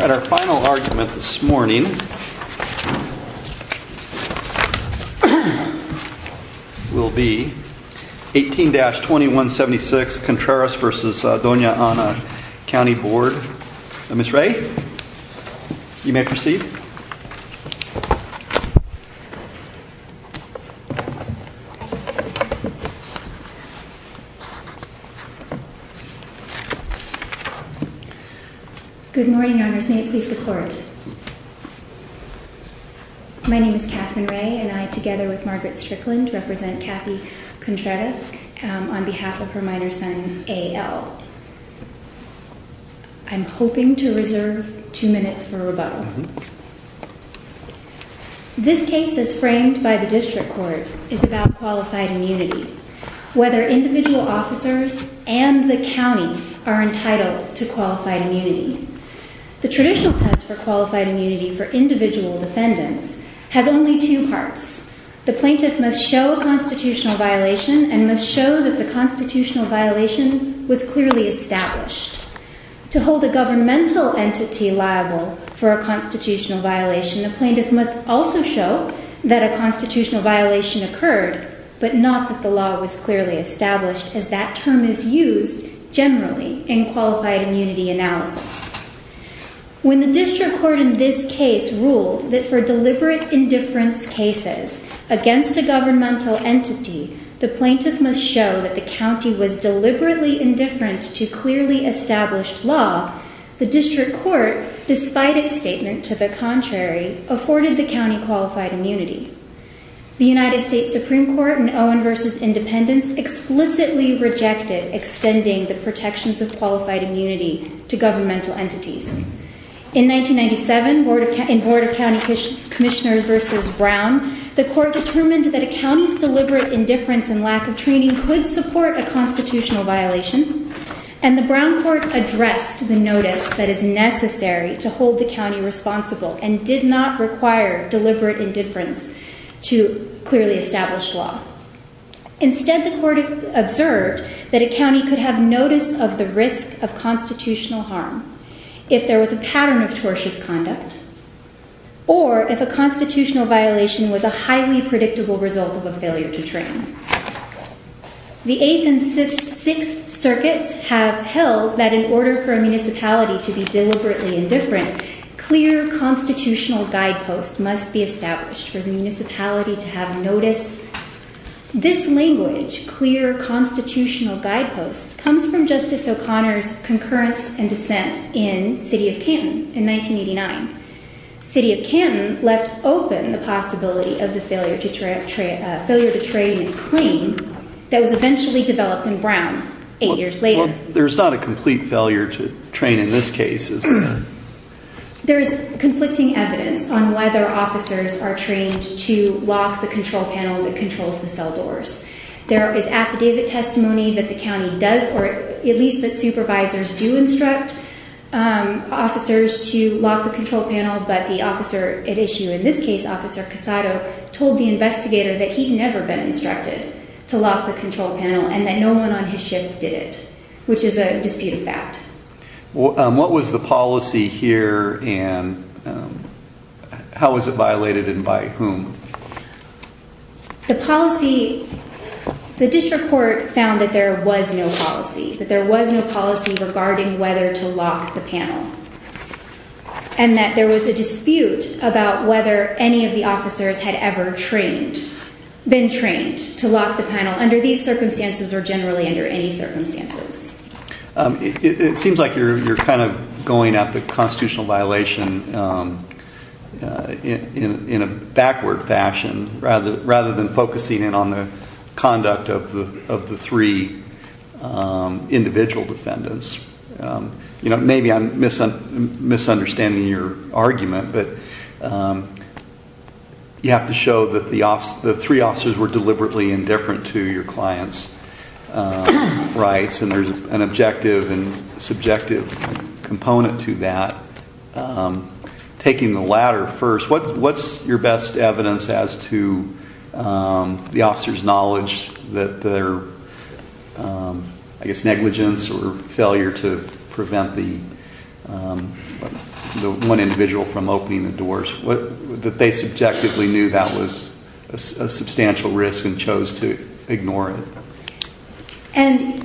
Our final argument this morning will be 18-2176 Contreras v. Dona Ana County Board. Ms. Ray, you may proceed. Good morning, Your Honors. May it please the Court. My name is Katharine Ray and I, together with Margaret Strickland, represent Kathy Contreras on behalf of her minor son, A.L. I'm hoping to reserve two minutes for rebuttal. This case, as framed by the District Court, is about qualified immunity. Whether individual officers and the county are entitled to qualified immunity. The traditional test for qualified immunity for individual defendants has only two parts. The plaintiff must show a constitutional violation and must show that the constitutional violation was clearly established. To hold a governmental entity liable for a constitutional violation, the plaintiff must also show that a constitutional violation occurred, but not that the law was clearly established, as that term is used generally in qualified immunity analysis. When the District Court in this case ruled that for deliberate indifference cases against a governmental entity, the plaintiff must show that the county was deliberately indifferent to clearly established law, the District Court, despite its statement to the contrary, afforded the county qualified immunity. The United States Supreme Court in Owen v. Independence explicitly rejected extending the protections of qualified immunity to governmental entities. In 1997, in Board of County Commissioners v. Brown, the court determined that a county's deliberate indifference and lack of training could support a constitutional violation. And the Brown court addressed the notice that is necessary to hold the county responsible and did not require deliberate indifference to clearly established law. Instead, the court observed that a county could have notice of the risk of constitutional harm if there was a pattern of tortious conduct, or if a constitutional violation was a highly predictable result of a failure to train. The Eighth and Sixth Circuits have held that in order for a municipality to be deliberately indifferent, clear constitutional guideposts must be established for the municipality to have notice. This language, clear constitutional guideposts, comes from Justice O'Connor's concurrence and dissent in City of Canton in 1989. City of Canton left open the possibility of the failure to train claim that was eventually developed in Brown eight years later. There's not a complete failure to train in this case, is there? There is conflicting evidence on whether officers are trained to lock the control panel that controls the cell doors. There is affidavit testimony that the county does, or at least that supervisors do instruct officers to lock the control panel. But the officer at issue, in this case, Officer Casado, told the investigator that he'd never been instructed to lock the control panel and that no one on his shift did it, which is a disputed fact. What was the policy here and how was it violated and by whom? The policy, the district court found that there was no policy, that there was no policy regarding whether to lock the panel and that there was a dispute about whether any of the officers had ever trained, been trained to lock the panel under these circumstances or generally under any circumstances. It seems like you're kind of going at the constitutional violation in a backward fashion rather than focusing in on the conduct of the three individual defendants. Maybe I'm misunderstanding your argument, but you have to show that the three officers were deliberately indifferent to your client's rights and there's an objective and subjective component to that. Taking the latter first, what's your best evidence as to the officer's knowledge that their, I guess, negligence or failure to prevent the one individual from opening the doors, that they subjectively knew that was a substantial risk and chose to ignore it?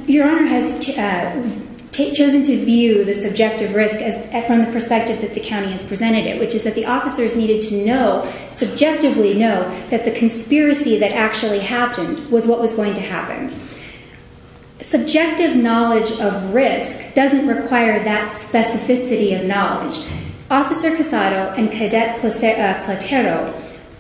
Your Honor has chosen to view the subjective risk from the perspective that the county has presented it, which is that the officers needed to know, subjectively know, that the conspiracy that actually happened was what was going to happen. Subjective knowledge of risk doesn't require that specificity of knowledge. Officer Casado and Cadet Platero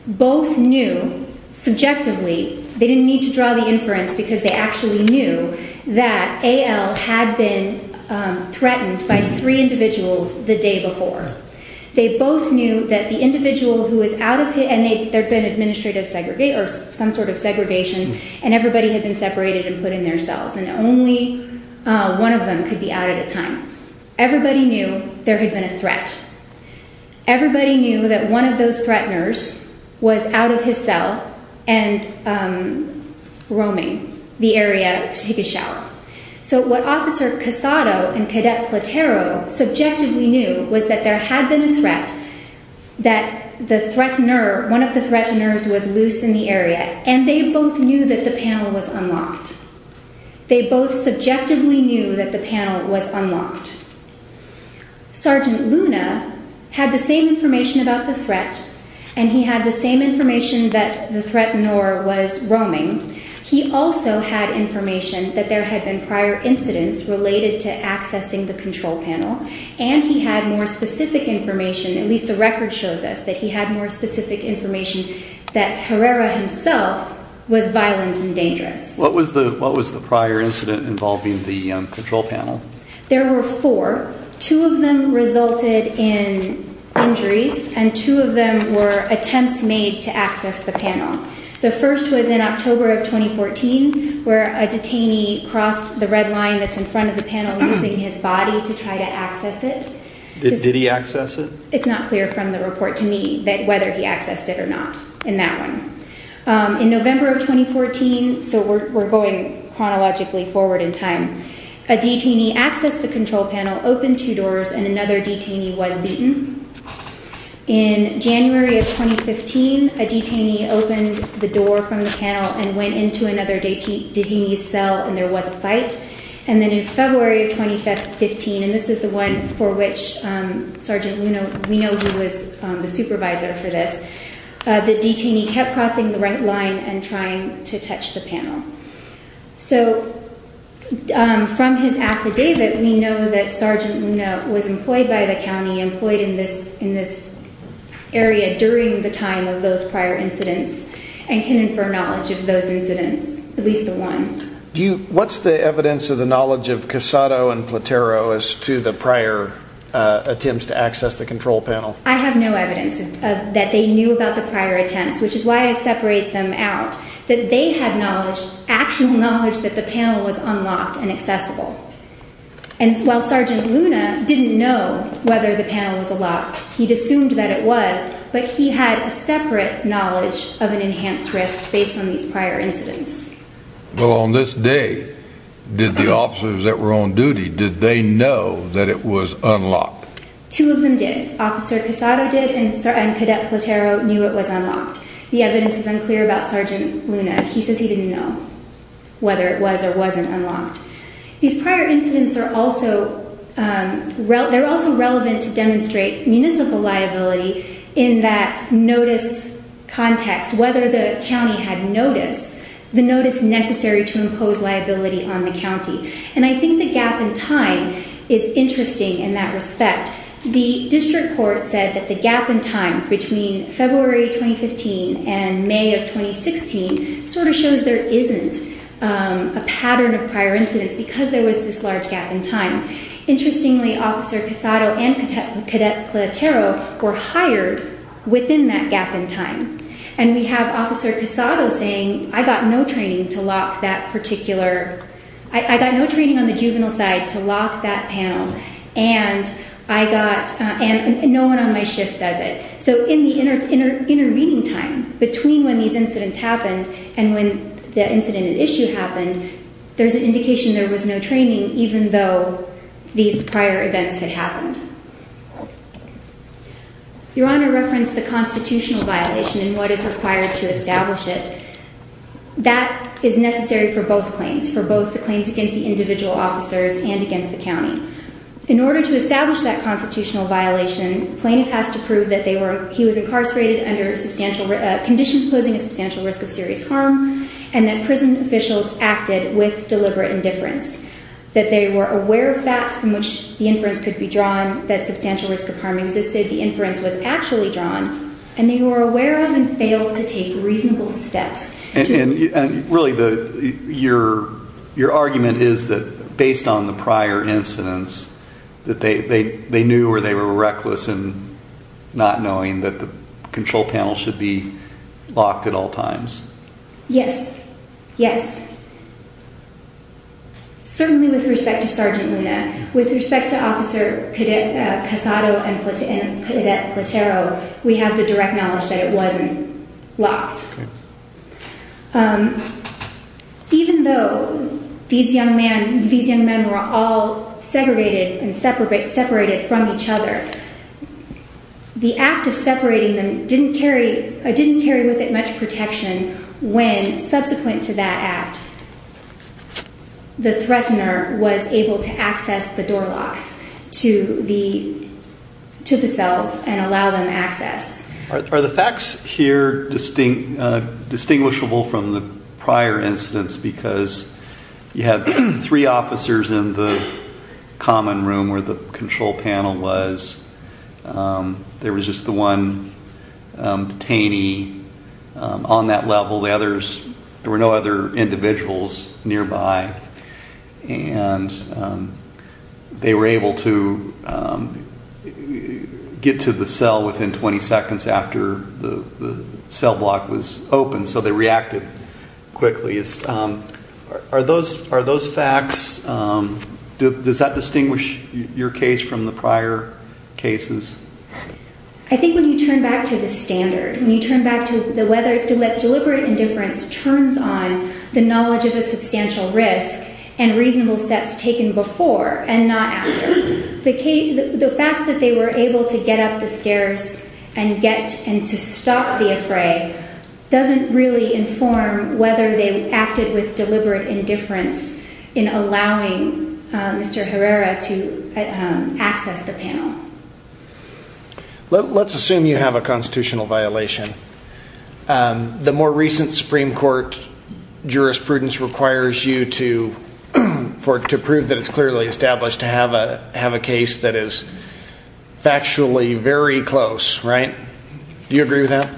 both knew subjectively, they didn't need to draw the inference because they actually knew, that A.L. had been threatened by three individuals the day before. They both knew that the individual who was out of his, and there had been administrative segregation, or some sort of segregation, and everybody had been separated and put in their cells, and only one of them could be out at a time. Everybody knew there had been a threat. Everybody knew that one of those threateners was out of his cell and roaming the area to take a shower. So what Officer Casado and Cadet Platero subjectively knew was that there had been a threat, that one of the threateners was loose in the area, and they both knew that the panel was unlocked. They both subjectively knew that the panel was unlocked. Sergeant Luna had the same information about the threat, and he had the same information that the threatener was roaming. He also had information that there had been prior incidents related to accessing the control panel, and he had more specific information, at least the record shows us that he had more specific information, that Herrera himself was violent and dangerous. What was the prior incident involving the control panel? There were four. Two of them resulted in injuries, and two of them were attempts made to access the panel. The first was in October of 2014, where a detainee crossed the red line that's in front of the panel using his body to try to access it. Did he access it? It's not clear from the report to me whether he accessed it or not in that one. In November of 2014, so we're going chronologically forward in time, a detainee accessed the control panel, opened two doors, and another detainee was beaten. In January of 2015, a detainee opened the door from the panel and went into another detainee's cell, and there was a fight. And then in February of 2015, and this is the one for which Sergeant Luna, we know who was the supervisor for this, the detainee kept crossing the red line and trying to touch the panel. So from his affidavit, we know that Sergeant Luna was employed by the county, employed in this area during the time of those prior incidents, and can infer knowledge of those incidents, at least the one. What's the evidence of the knowledge of Casado and Platero as to the prior attempts to access the control panel? I have no evidence that they knew about the prior attempts, which is why I separate them out, that they had knowledge, actual knowledge that the panel was unlocked and accessible. And while Sergeant Luna didn't know whether the panel was unlocked, he'd assumed that it was, but he had a separate knowledge of an enhanced risk based on these prior incidents. Well, on this day, did the officers that were on duty, did they know that it was unlocked? Two of them did. Officer Casado did, and Cadet Platero knew it was unlocked. The evidence is unclear about Sergeant Luna. He says he didn't know whether it was or wasn't unlocked. These prior incidents are also relevant to demonstrate municipal liability in that notice context, whether the county had notice, the notice necessary to impose liability on the county. And I think the gap in time is interesting in that respect. The district court said that the gap in time between February 2015 and May of 2016 sort of shows there isn't a pattern of prior incidents because there was this large gap in time. Interestingly, Officer Casado and Cadet Platero were hired within that gap in time, and we have Officer Casado saying, I got no training to lock that particular, I got no training on the juvenile side to lock that panel, and I got, and no one on my shift does it. So in the intervening time between when these incidents happened and when the incident at issue happened, there's an indication there was no training even though these prior events had happened. Your Honor referenced the constitutional violation and what is required to establish it. That is necessary for both claims, for both the claims against the individual officers and against the county. In order to establish that constitutional violation, plaintiff has to prove that he was incarcerated under conditions posing a substantial risk of serious harm and that prison officials acted with deliberate indifference. That they were aware of facts from which the inference could be drawn, that substantial risk of harm existed, the inference was actually drawn, and they were aware of and failed to take reasonable steps. And really, your argument is that based on the prior incidents, that they knew or they were reckless in not knowing that the control panel should be locked at all times. Yes. Yes. Certainly with respect to Sergeant Luna. With respect to Officer Casado and Cadet Platero, we have the direct knowledge that it wasn't locked. Even though these young men were all segregated and separated from each other, the act of separating them didn't carry with it much protection when subsequent to that act, the threatener was able to access the door locks to the cells and allow them access. Are the facts here distinguishable from the prior incidents because you had three officers in the common room where the control panel was. There was just the one detainee on that level. The others, there were no other individuals nearby and they were able to get to the cell within 20 seconds after the cell block was open. So they reacted quickly. Are those facts, does that distinguish your case from the prior cases? I think when you turn back to the standard, when you turn back to whether deliberate indifference turns on the knowledge of a substantial risk and reasonable steps taken before and not after. The fact that they were able to get up the stairs and to stop the affray doesn't really inform whether they acted with deliberate indifference in allowing Mr. Herrera to access the panel. Let's assume you have a constitutional violation. The more recent Supreme Court jurisprudence requires you to prove that it's clearly established to have a case that is factually very close, right? Do you agree with that?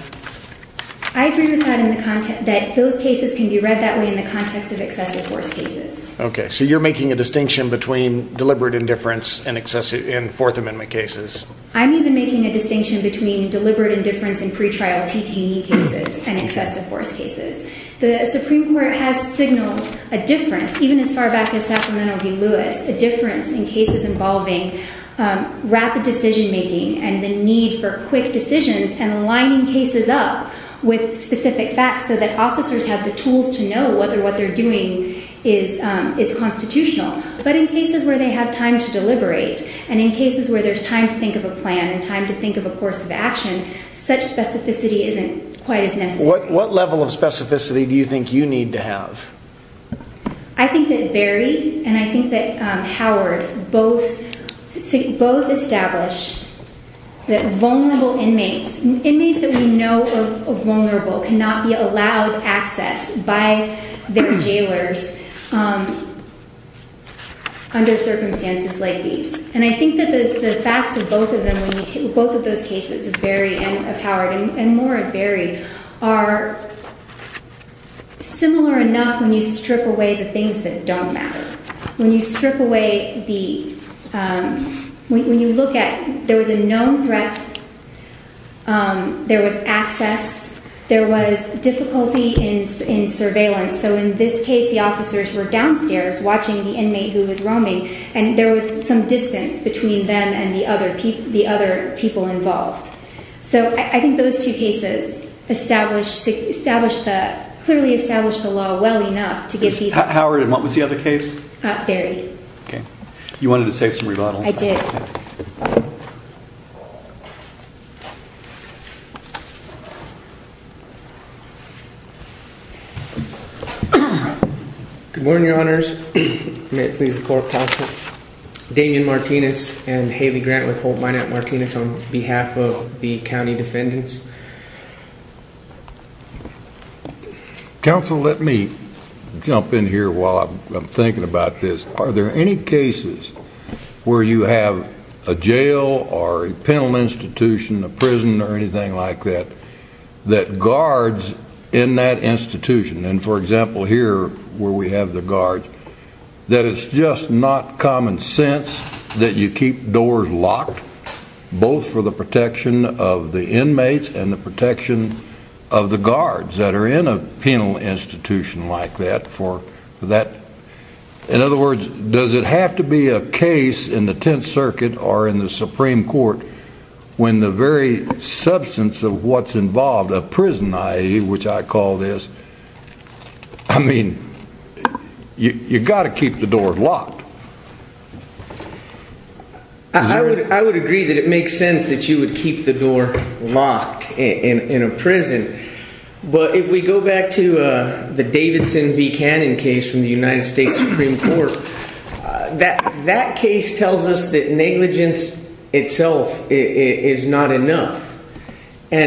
I agree with that in the context that those cases can be read that way in the context of excessive force cases. Okay, so you're making a distinction between deliberate indifference and excessive in Fourth Amendment cases. I'm even making a distinction between deliberate indifference in pretrial TTE cases and excessive force cases. The Supreme Court has signaled a difference, even as far back as Sacramento v. Lewis, a difference in cases involving rapid decision making and the need for quick decisions and lining cases up with specific facts so that officers have the tools to know whether what they're doing is constitutional. But in cases where they have time to deliberate and in cases where there's time to think of a plan and time to think of a course of action, such specificity isn't quite as necessary. What level of specificity do you think you need to have? I think that Barry and I think that Howard both establish that vulnerable inmates, inmates that we know are vulnerable, cannot be allowed access by their jailers under circumstances like these. And I think that the facts of both of those cases, of Barry and of Howard and more of Barry, are similar enough when you strip away the things that don't matter. When you strip away the, when you look at, there was a known threat, there was access, there was difficulty in surveillance. So in this case the officers were downstairs watching the inmate who was roaming and there was some distance between them and the other people involved. So I think those two cases establish, clearly establish the law well enough to get these... Howard, what was the other case? Barry. Okay. You wanted to say some rebuttals? I did. Good morning, Your Honors. May it please the Court of Counsel. Damian Martinez and Haley Grant with Hold Minot Martinez on behalf of the county defendants. Counsel, let me jump in here while I'm thinking about this. Are there any cases where you have a jail or a penal institution, a prison or anything like that, that guards in that institution, and for example here where we have the guards, that it's just not common sense that you keep doors locked, both for the protection of the inmates and the protection of the guards that are in a penal institution like that? In other words, does it have to be a case in the Tenth Circuit or in the Supreme Court when the very substance of what's involved, a prison, which I call this, I mean, you've got to keep the door locked. I would agree that it makes sense that you would keep the door locked in a prison. But if we go back to the Davidson v. Cannon case from the United States Supreme Court, that case tells us that negligence itself is not enough. I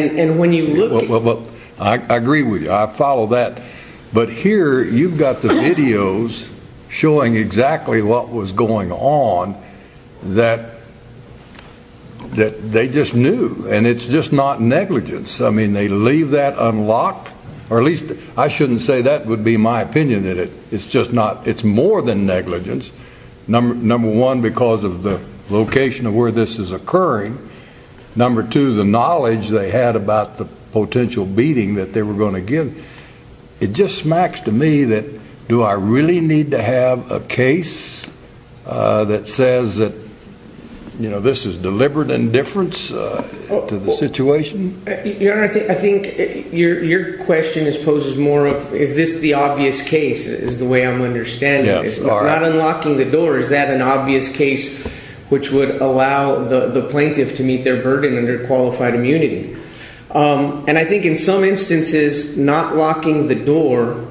agree with you. I follow that. But here you've got the videos showing exactly what was going on that they just knew. And it's just not negligence. I mean, they leave that unlocked. Or at least I shouldn't say that would be my opinion. It's more than negligence. Number one, because of the location of where this is occurring. Number two, the knowledge they had about the potential beating that they were going to give. It just smacks to me that do I really need to have a case that says that this is deliberate indifference to the situation? Your Honor, I think your question poses more of is this the obvious case is the way I'm understanding it. Not unlocking the door, is that an obvious case which would allow the plaintiff to meet their burden under qualified immunity? And I think in some instances, not locking the door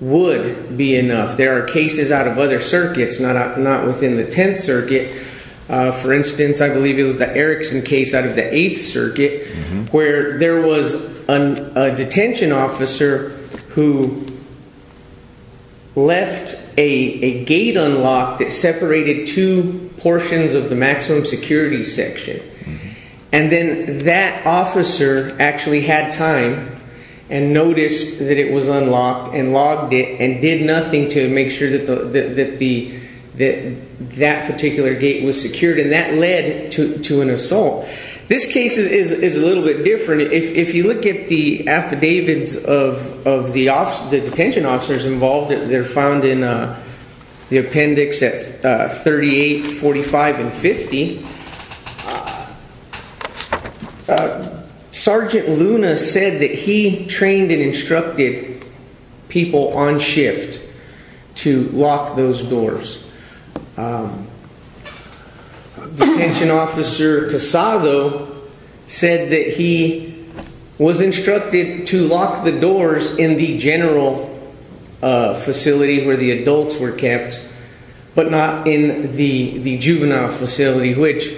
would be enough. There are cases out of other circuits, not within the Tenth Circuit. For instance, I believe it was the Erickson case out of the Eighth Circuit where there was a detention officer who left a gate unlocked that separated two portions of the maximum security section. And then that officer actually had time and noticed that it was unlocked and logged it and did nothing to make sure that that particular gate was secured. And that led to an assault. This case is a little bit different. If you look at the affidavits of the detention officers involved, they're found in the appendix at 38, 45, and 50. Sergeant Luna said that he trained and instructed people on shift to lock those doors. Detention officer Casado said that he was instructed to lock the doors in the general facility where the adults were kept, but not in the juvenile facility, which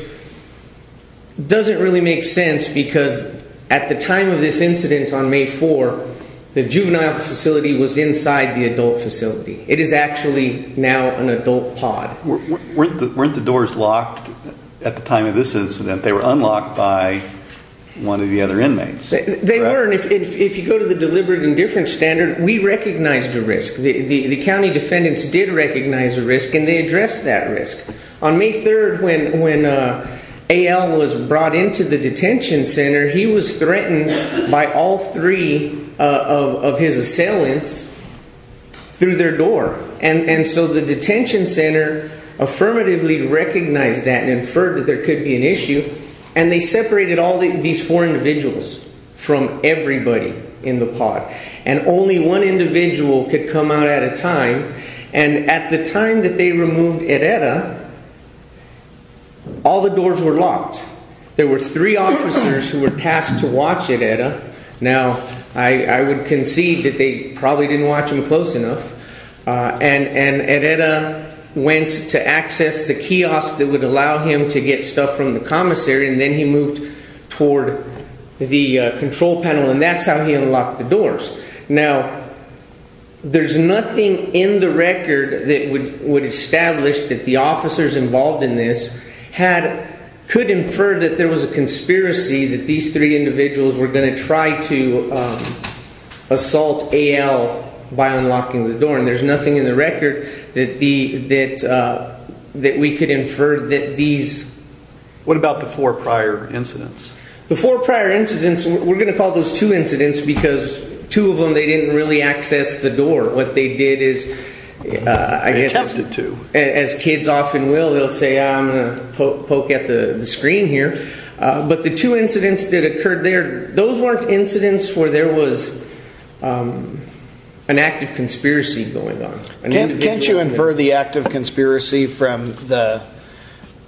doesn't really make sense because at the time of this incident on May 4, the juvenile facility was inside the adult facility. It is actually now an adult pod. Weren't the doors locked at the time of this incident? They were unlocked by one of the other inmates. They weren't. If you go to the deliberate indifference standard, we recognized a risk. The county defendants did recognize a risk, and they addressed that risk. On May 3, when A.L. was brought into the detention center, he was threatened by all three of his assailants through their door. And so the detention center affirmatively recognized that and inferred that there could be an issue, and they separated all these four individuals from everybody in the pod. And only one individual could come out at a time. And at the time that they removed Ereda, all the doors were locked. There were three officers who were tasked to watch Ereda. Now, I would concede that they probably didn't watch him close enough. And Ereda went to access the kiosk that would allow him to get stuff from the commissary, and then he moved toward the control panel, and that's how he unlocked the doors. Now, there's nothing in the record that would establish that the officers involved in this could infer that there was a conspiracy that these three individuals were going to try to assault A.L. by unlocking the door. And there's nothing in the record that we could infer that these— What about the four prior incidents? The four prior incidents, we're going to call those two incidents because two of them, they didn't really access the door. What they did is, I guess, as kids often will, they'll say, I'm going to poke at the screen here. But the two incidents that occurred there, those weren't incidents where there was an act of conspiracy going on. Can't you infer the act of conspiracy from the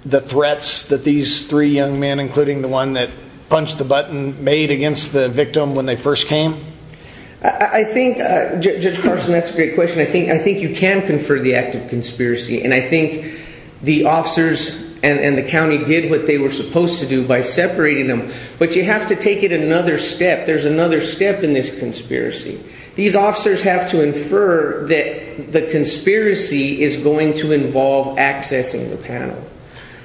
threats that these three young men, including the one that punched the button, made against the victim when they first came? I think—Judge Carson, that's a great question. I think you can confer the act of conspiracy, and I think the officers and the county did what they were supposed to do by separating them. But you have to take it another step. There's another step in this conspiracy. These officers have to infer that the conspiracy is going to involve accessing the panel.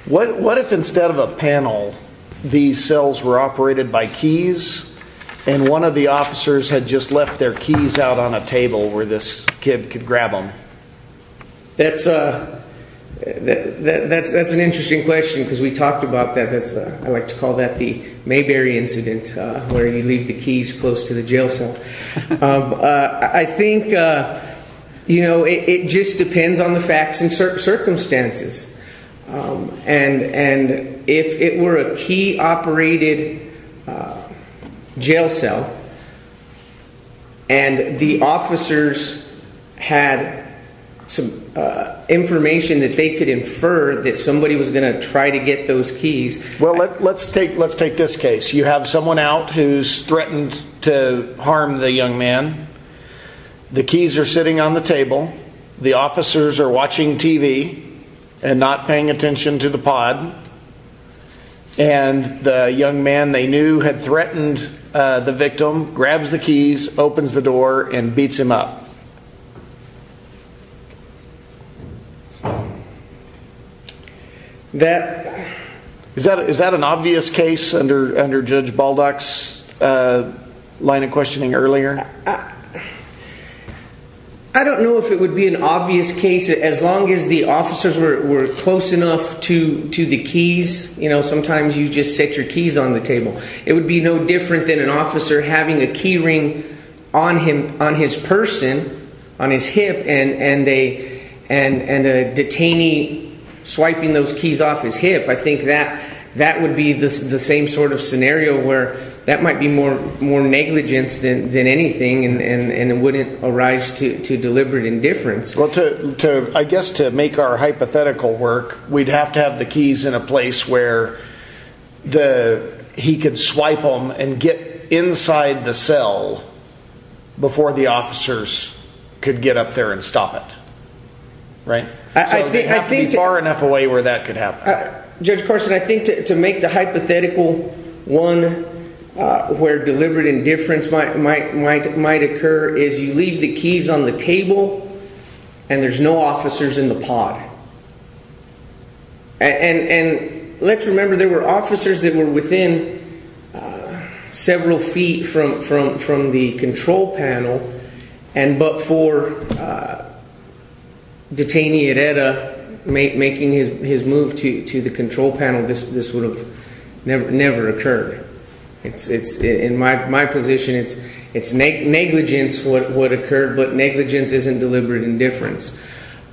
What if instead of a panel, these cells were operated by keys, and one of the officers had just left their keys out on a table where this kid could grab them? That's an interesting question because we talked about that. I like to call that the Mayberry incident where you leave the keys close to the jail cell. I think it just depends on the facts and circumstances. If it were a key-operated jail cell and the officers had some information that they could infer that somebody was going to try to get those keys— Well, let's take this case. You have someone out who's threatened to harm the young man. The keys are sitting on the table. The officers are watching TV and not paying attention to the pod. And the young man they knew had threatened the victim, grabs the keys, opens the door, and beats him up. Is that an obvious case under Judge Baldock's line of questioning earlier? I don't know if it would be an obvious case. As long as the officers were close enough to the keys, sometimes you just set your keys on the table. It would be no different than an officer having a key ring on his person, on his hip, and a detainee swiping those keys off his hip. I think that would be the same sort of scenario where that might be more negligence than anything and it wouldn't arise to deliberate indifference. Well, I guess to make our hypothetical work, we'd have to have the keys in a place where he could swipe them and get inside the cell before the officers could get up there and stop it. So they'd have to be far enough away where that could happen. Judge Carson, I think to make the hypothetical one where deliberate indifference might occur is you leave the keys on the table and there's no officers in the pod. And let's remember there were officers that were within several feet from the control panel, but for detainee Herrera making his move to the control panel, this would have never occurred. In my position, it's negligence what occurred, but negligence isn't deliberate indifference.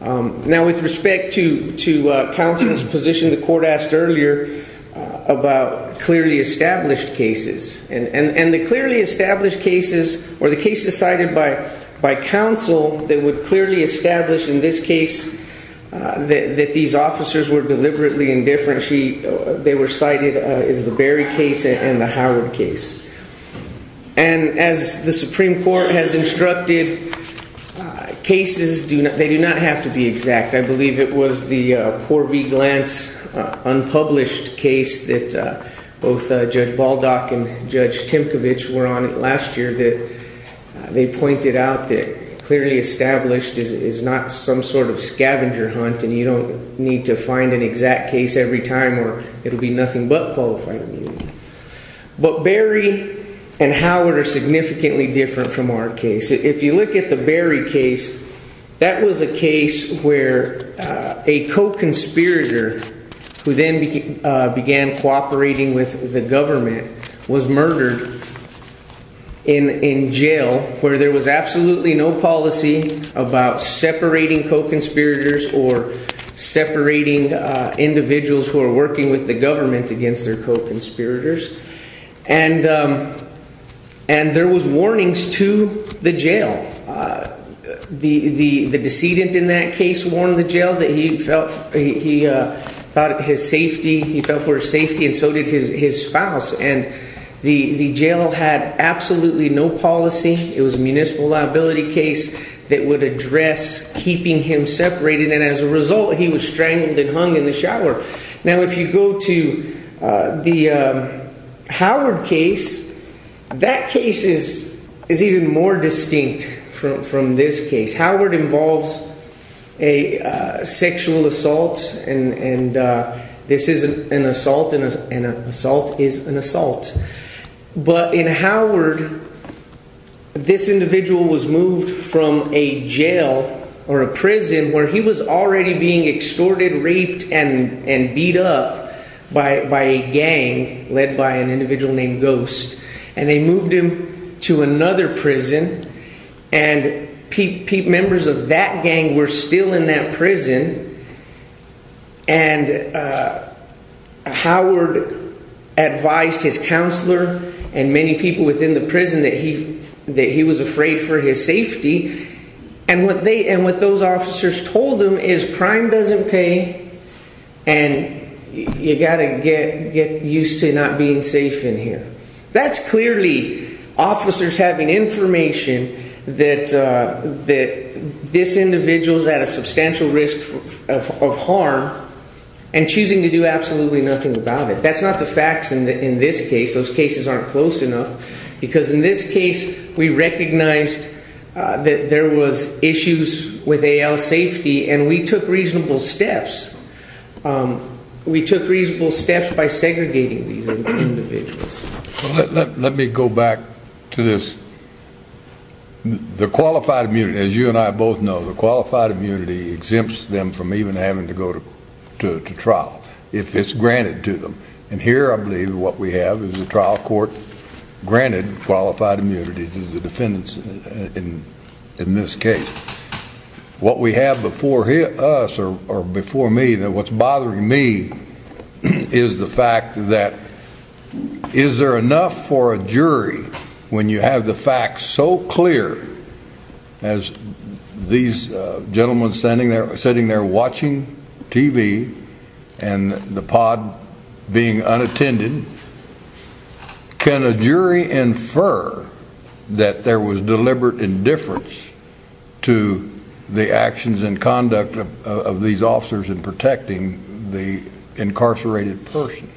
Now, with respect to counsel's position, the court asked earlier about clearly established cases. And the clearly established cases were the cases cited by counsel that would clearly establish in this case that these officers were deliberately indifferent. They were cited as the Berry case and the Howard case. And as the Supreme Court has instructed, cases, they do not have to be exact. I believe it was the Poor v. Glantz unpublished case that both Judge Baldock and Judge Timkovich were on last year that they pointed out that clearly established is not some sort of scavenger hunt. And you don't need to find an exact case every time or it'll be nothing but qualified immunity. But Berry and Howard are significantly different from our case. And there was warnings to the jail. The decedent in that case warned the jail that he felt his safety. He felt for safety and so did his spouse. And the jail had absolutely no policy. It was a municipal liability case that would address keeping him separated. And as a result, he was strangled and hung in the shower. Now, if you go to the Howard case, that case is even more distinct from this case. Howard involves a sexual assault. And this isn't an assault. An assault is an assault. But in Howard, this individual was moved from a jail or a prison where he was already being extorted, raped and beat up by a gang led by an individual named Ghost. And they moved him to another prison. And members of that gang were still in that prison. And Howard advised his counselor and many people within the prison that he that he was afraid for his safety. And what they and what those officers told them is crime doesn't pay. And you got to get get used to not being safe in here. That's clearly officers having information that that this individual is at a substantial risk of harm and choosing to do absolutely nothing about it. That's not the facts. And in this case, those cases aren't close enough because in this case, we recognized that there was issues with safety and we took reasonable steps. We took reasonable steps by segregating these individuals. Let me go back to this. The qualified immunity, as you and I both know, the qualified immunity exempts them from even having to go to trial if it's granted to them. And here, I believe what we have is a trial court granted qualified immunity to the defendants. In this case, what we have before us or before me that what's bothering me is the fact that is there enough for a jury when you have the facts so clear? As these gentlemen standing there sitting there watching TV and the pod being unattended, can a jury infer that there was deliberate indifference to the actions and conduct of these officers in protecting the incarcerated person?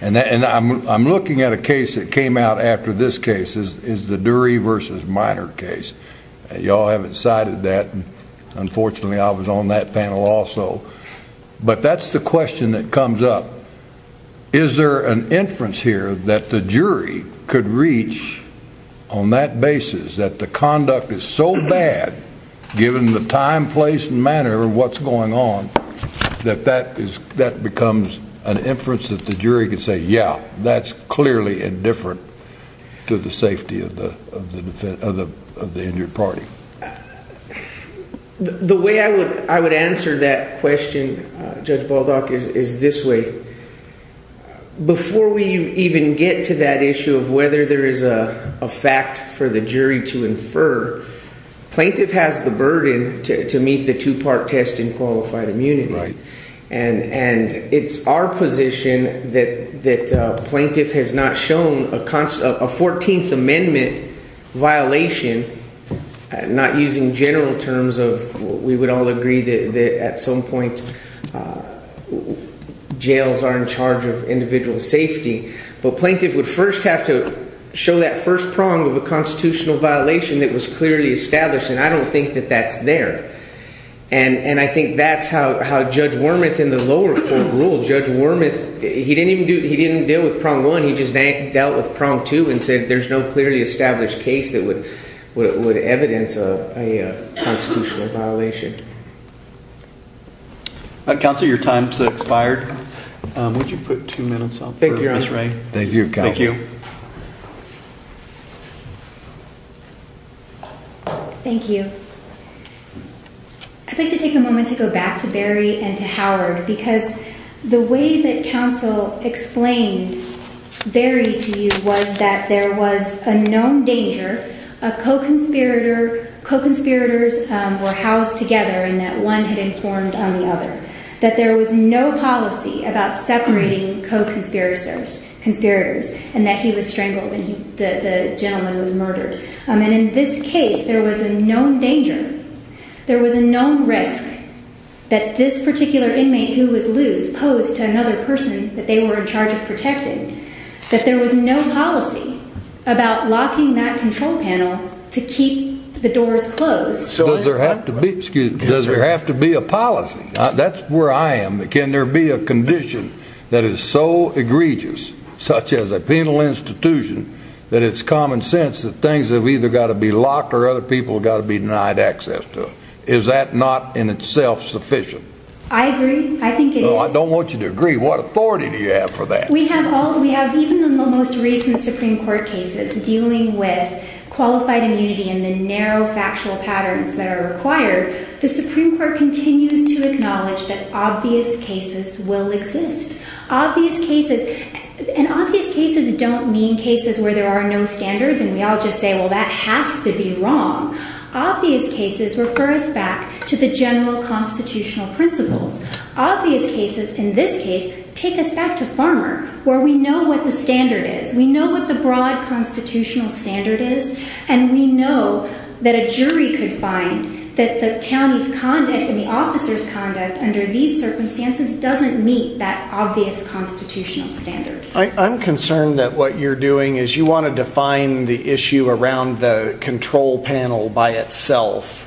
And I'm looking at a case that came out after this case is the Dury v. Minor case. You all haven't cited that. Unfortunately, I was on that panel also. But that's the question that comes up. Is there an inference here that the jury could reach on that basis that the conduct is so bad, given the time, place, and manner of what's going on, that that becomes an inference that the jury could say, yeah, that's clearly indifferent to the safety of the injured party? The way I would answer that question, Judge Baldock, is this way. Before we even get to that issue of whether there is a fact for the jury to infer, plaintiff has the burden to meet the two-part test in qualified immunity. And it's our position that plaintiff has not shown a 14th Amendment violation, not using general terms of we would all agree that at some point jails are in charge of individual safety. But plaintiff would first have to show that first prong of a constitutional violation that was clearly established. And I don't think that that's there. And I think that's how Judge Wormuth in the lower court ruled. Judge Wormuth, he didn't deal with prong one. He just dealt with prong two and said there's no clearly established case that would evidence a constitutional violation. Counsel, your time's expired. Would you put two minutes up for Ms. Ray? Thank you, Counsel. Thank you. Thank you. I'd like to take a moment to go back to Barry and to Howard because the way that Counsel explained Barry to you was that there was a known danger, a co-conspirator, co-conspirators were housed together and that one had informed on the other, that there was no policy about separating co-conspirators and that he was strangled and the gentleman was murdered. And in this case, there was a known danger, there was a known risk that this particular inmate who was loose posed to another person that they were in charge of protecting, that there was no policy about locking that control panel to keep the doors closed. Does there have to be a policy? That's where I am. Can there be a condition that is so egregious, such as a penal institution, that it's common sense that things have either got to be locked or other people have got to be denied access to them? Is that not in itself sufficient? I agree. I think it is. Well, I don't want you to agree. What authority do you have for that? We have all, we have even the most recent Supreme Court cases dealing with qualified immunity and the narrow factual patterns that are required. The Supreme Court continues to acknowledge that obvious cases will exist. Obvious cases, and obvious cases don't mean cases where there are no standards and we all just say, well, that has to be wrong. Obvious cases refer us back to the general constitutional principles. Obvious cases, in this case, take us back to Farmer, where we know what the standard is. We know what the broad constitutional standard is. And we know that a jury could find that the county's conduct and the officer's conduct under these circumstances doesn't meet that obvious constitutional standard. I'm concerned that what you're doing is you want to define the issue around the control panel by itself.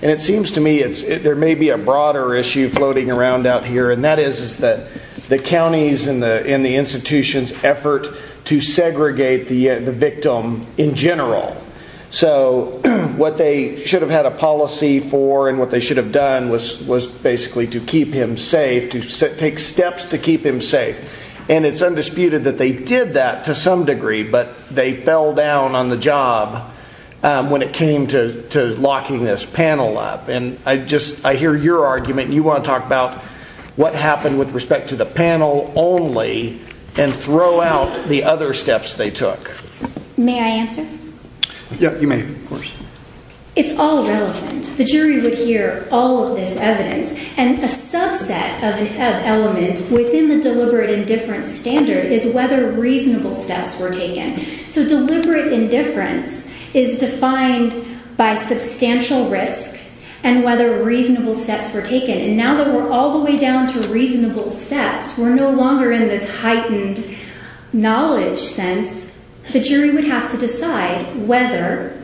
And it seems to me there may be a broader issue floating around out here. And that is that the counties and the institutions effort to segregate the victim in general. So what they should have had a policy for and what they should have done was basically to keep him safe, to take steps to keep him safe. And it's undisputed that they did that to some degree, but they fell down on the job when it came to locking this panel up. And I just, I hear your argument and you want to talk about what happened with respect to the panel only and throw out the other steps they took. May I answer? Yeah, you may, of course. It's all relevant. The jury would hear all of this evidence and a subset of an element within the deliberate indifference standard is whether reasonable steps were taken. So deliberate indifference is defined by substantial risk and whether reasonable steps were taken. And now that we're all the way down to reasonable steps, we're no longer in this heightened knowledge sense. The jury would have to decide whether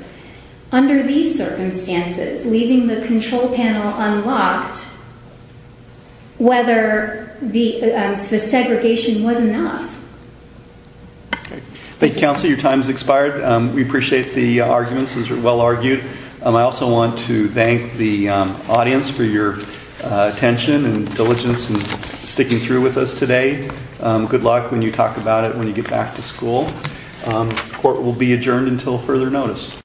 under these circumstances, leaving the control panel unlocked, whether the segregation was enough. Thank you, counsel. Your time has expired. We appreciate the arguments. Those were well argued. I also want to thank the audience for your attention and diligence in sticking through with us today. Good luck when you talk about it when you get back to school. Court will be adjourned until further notice.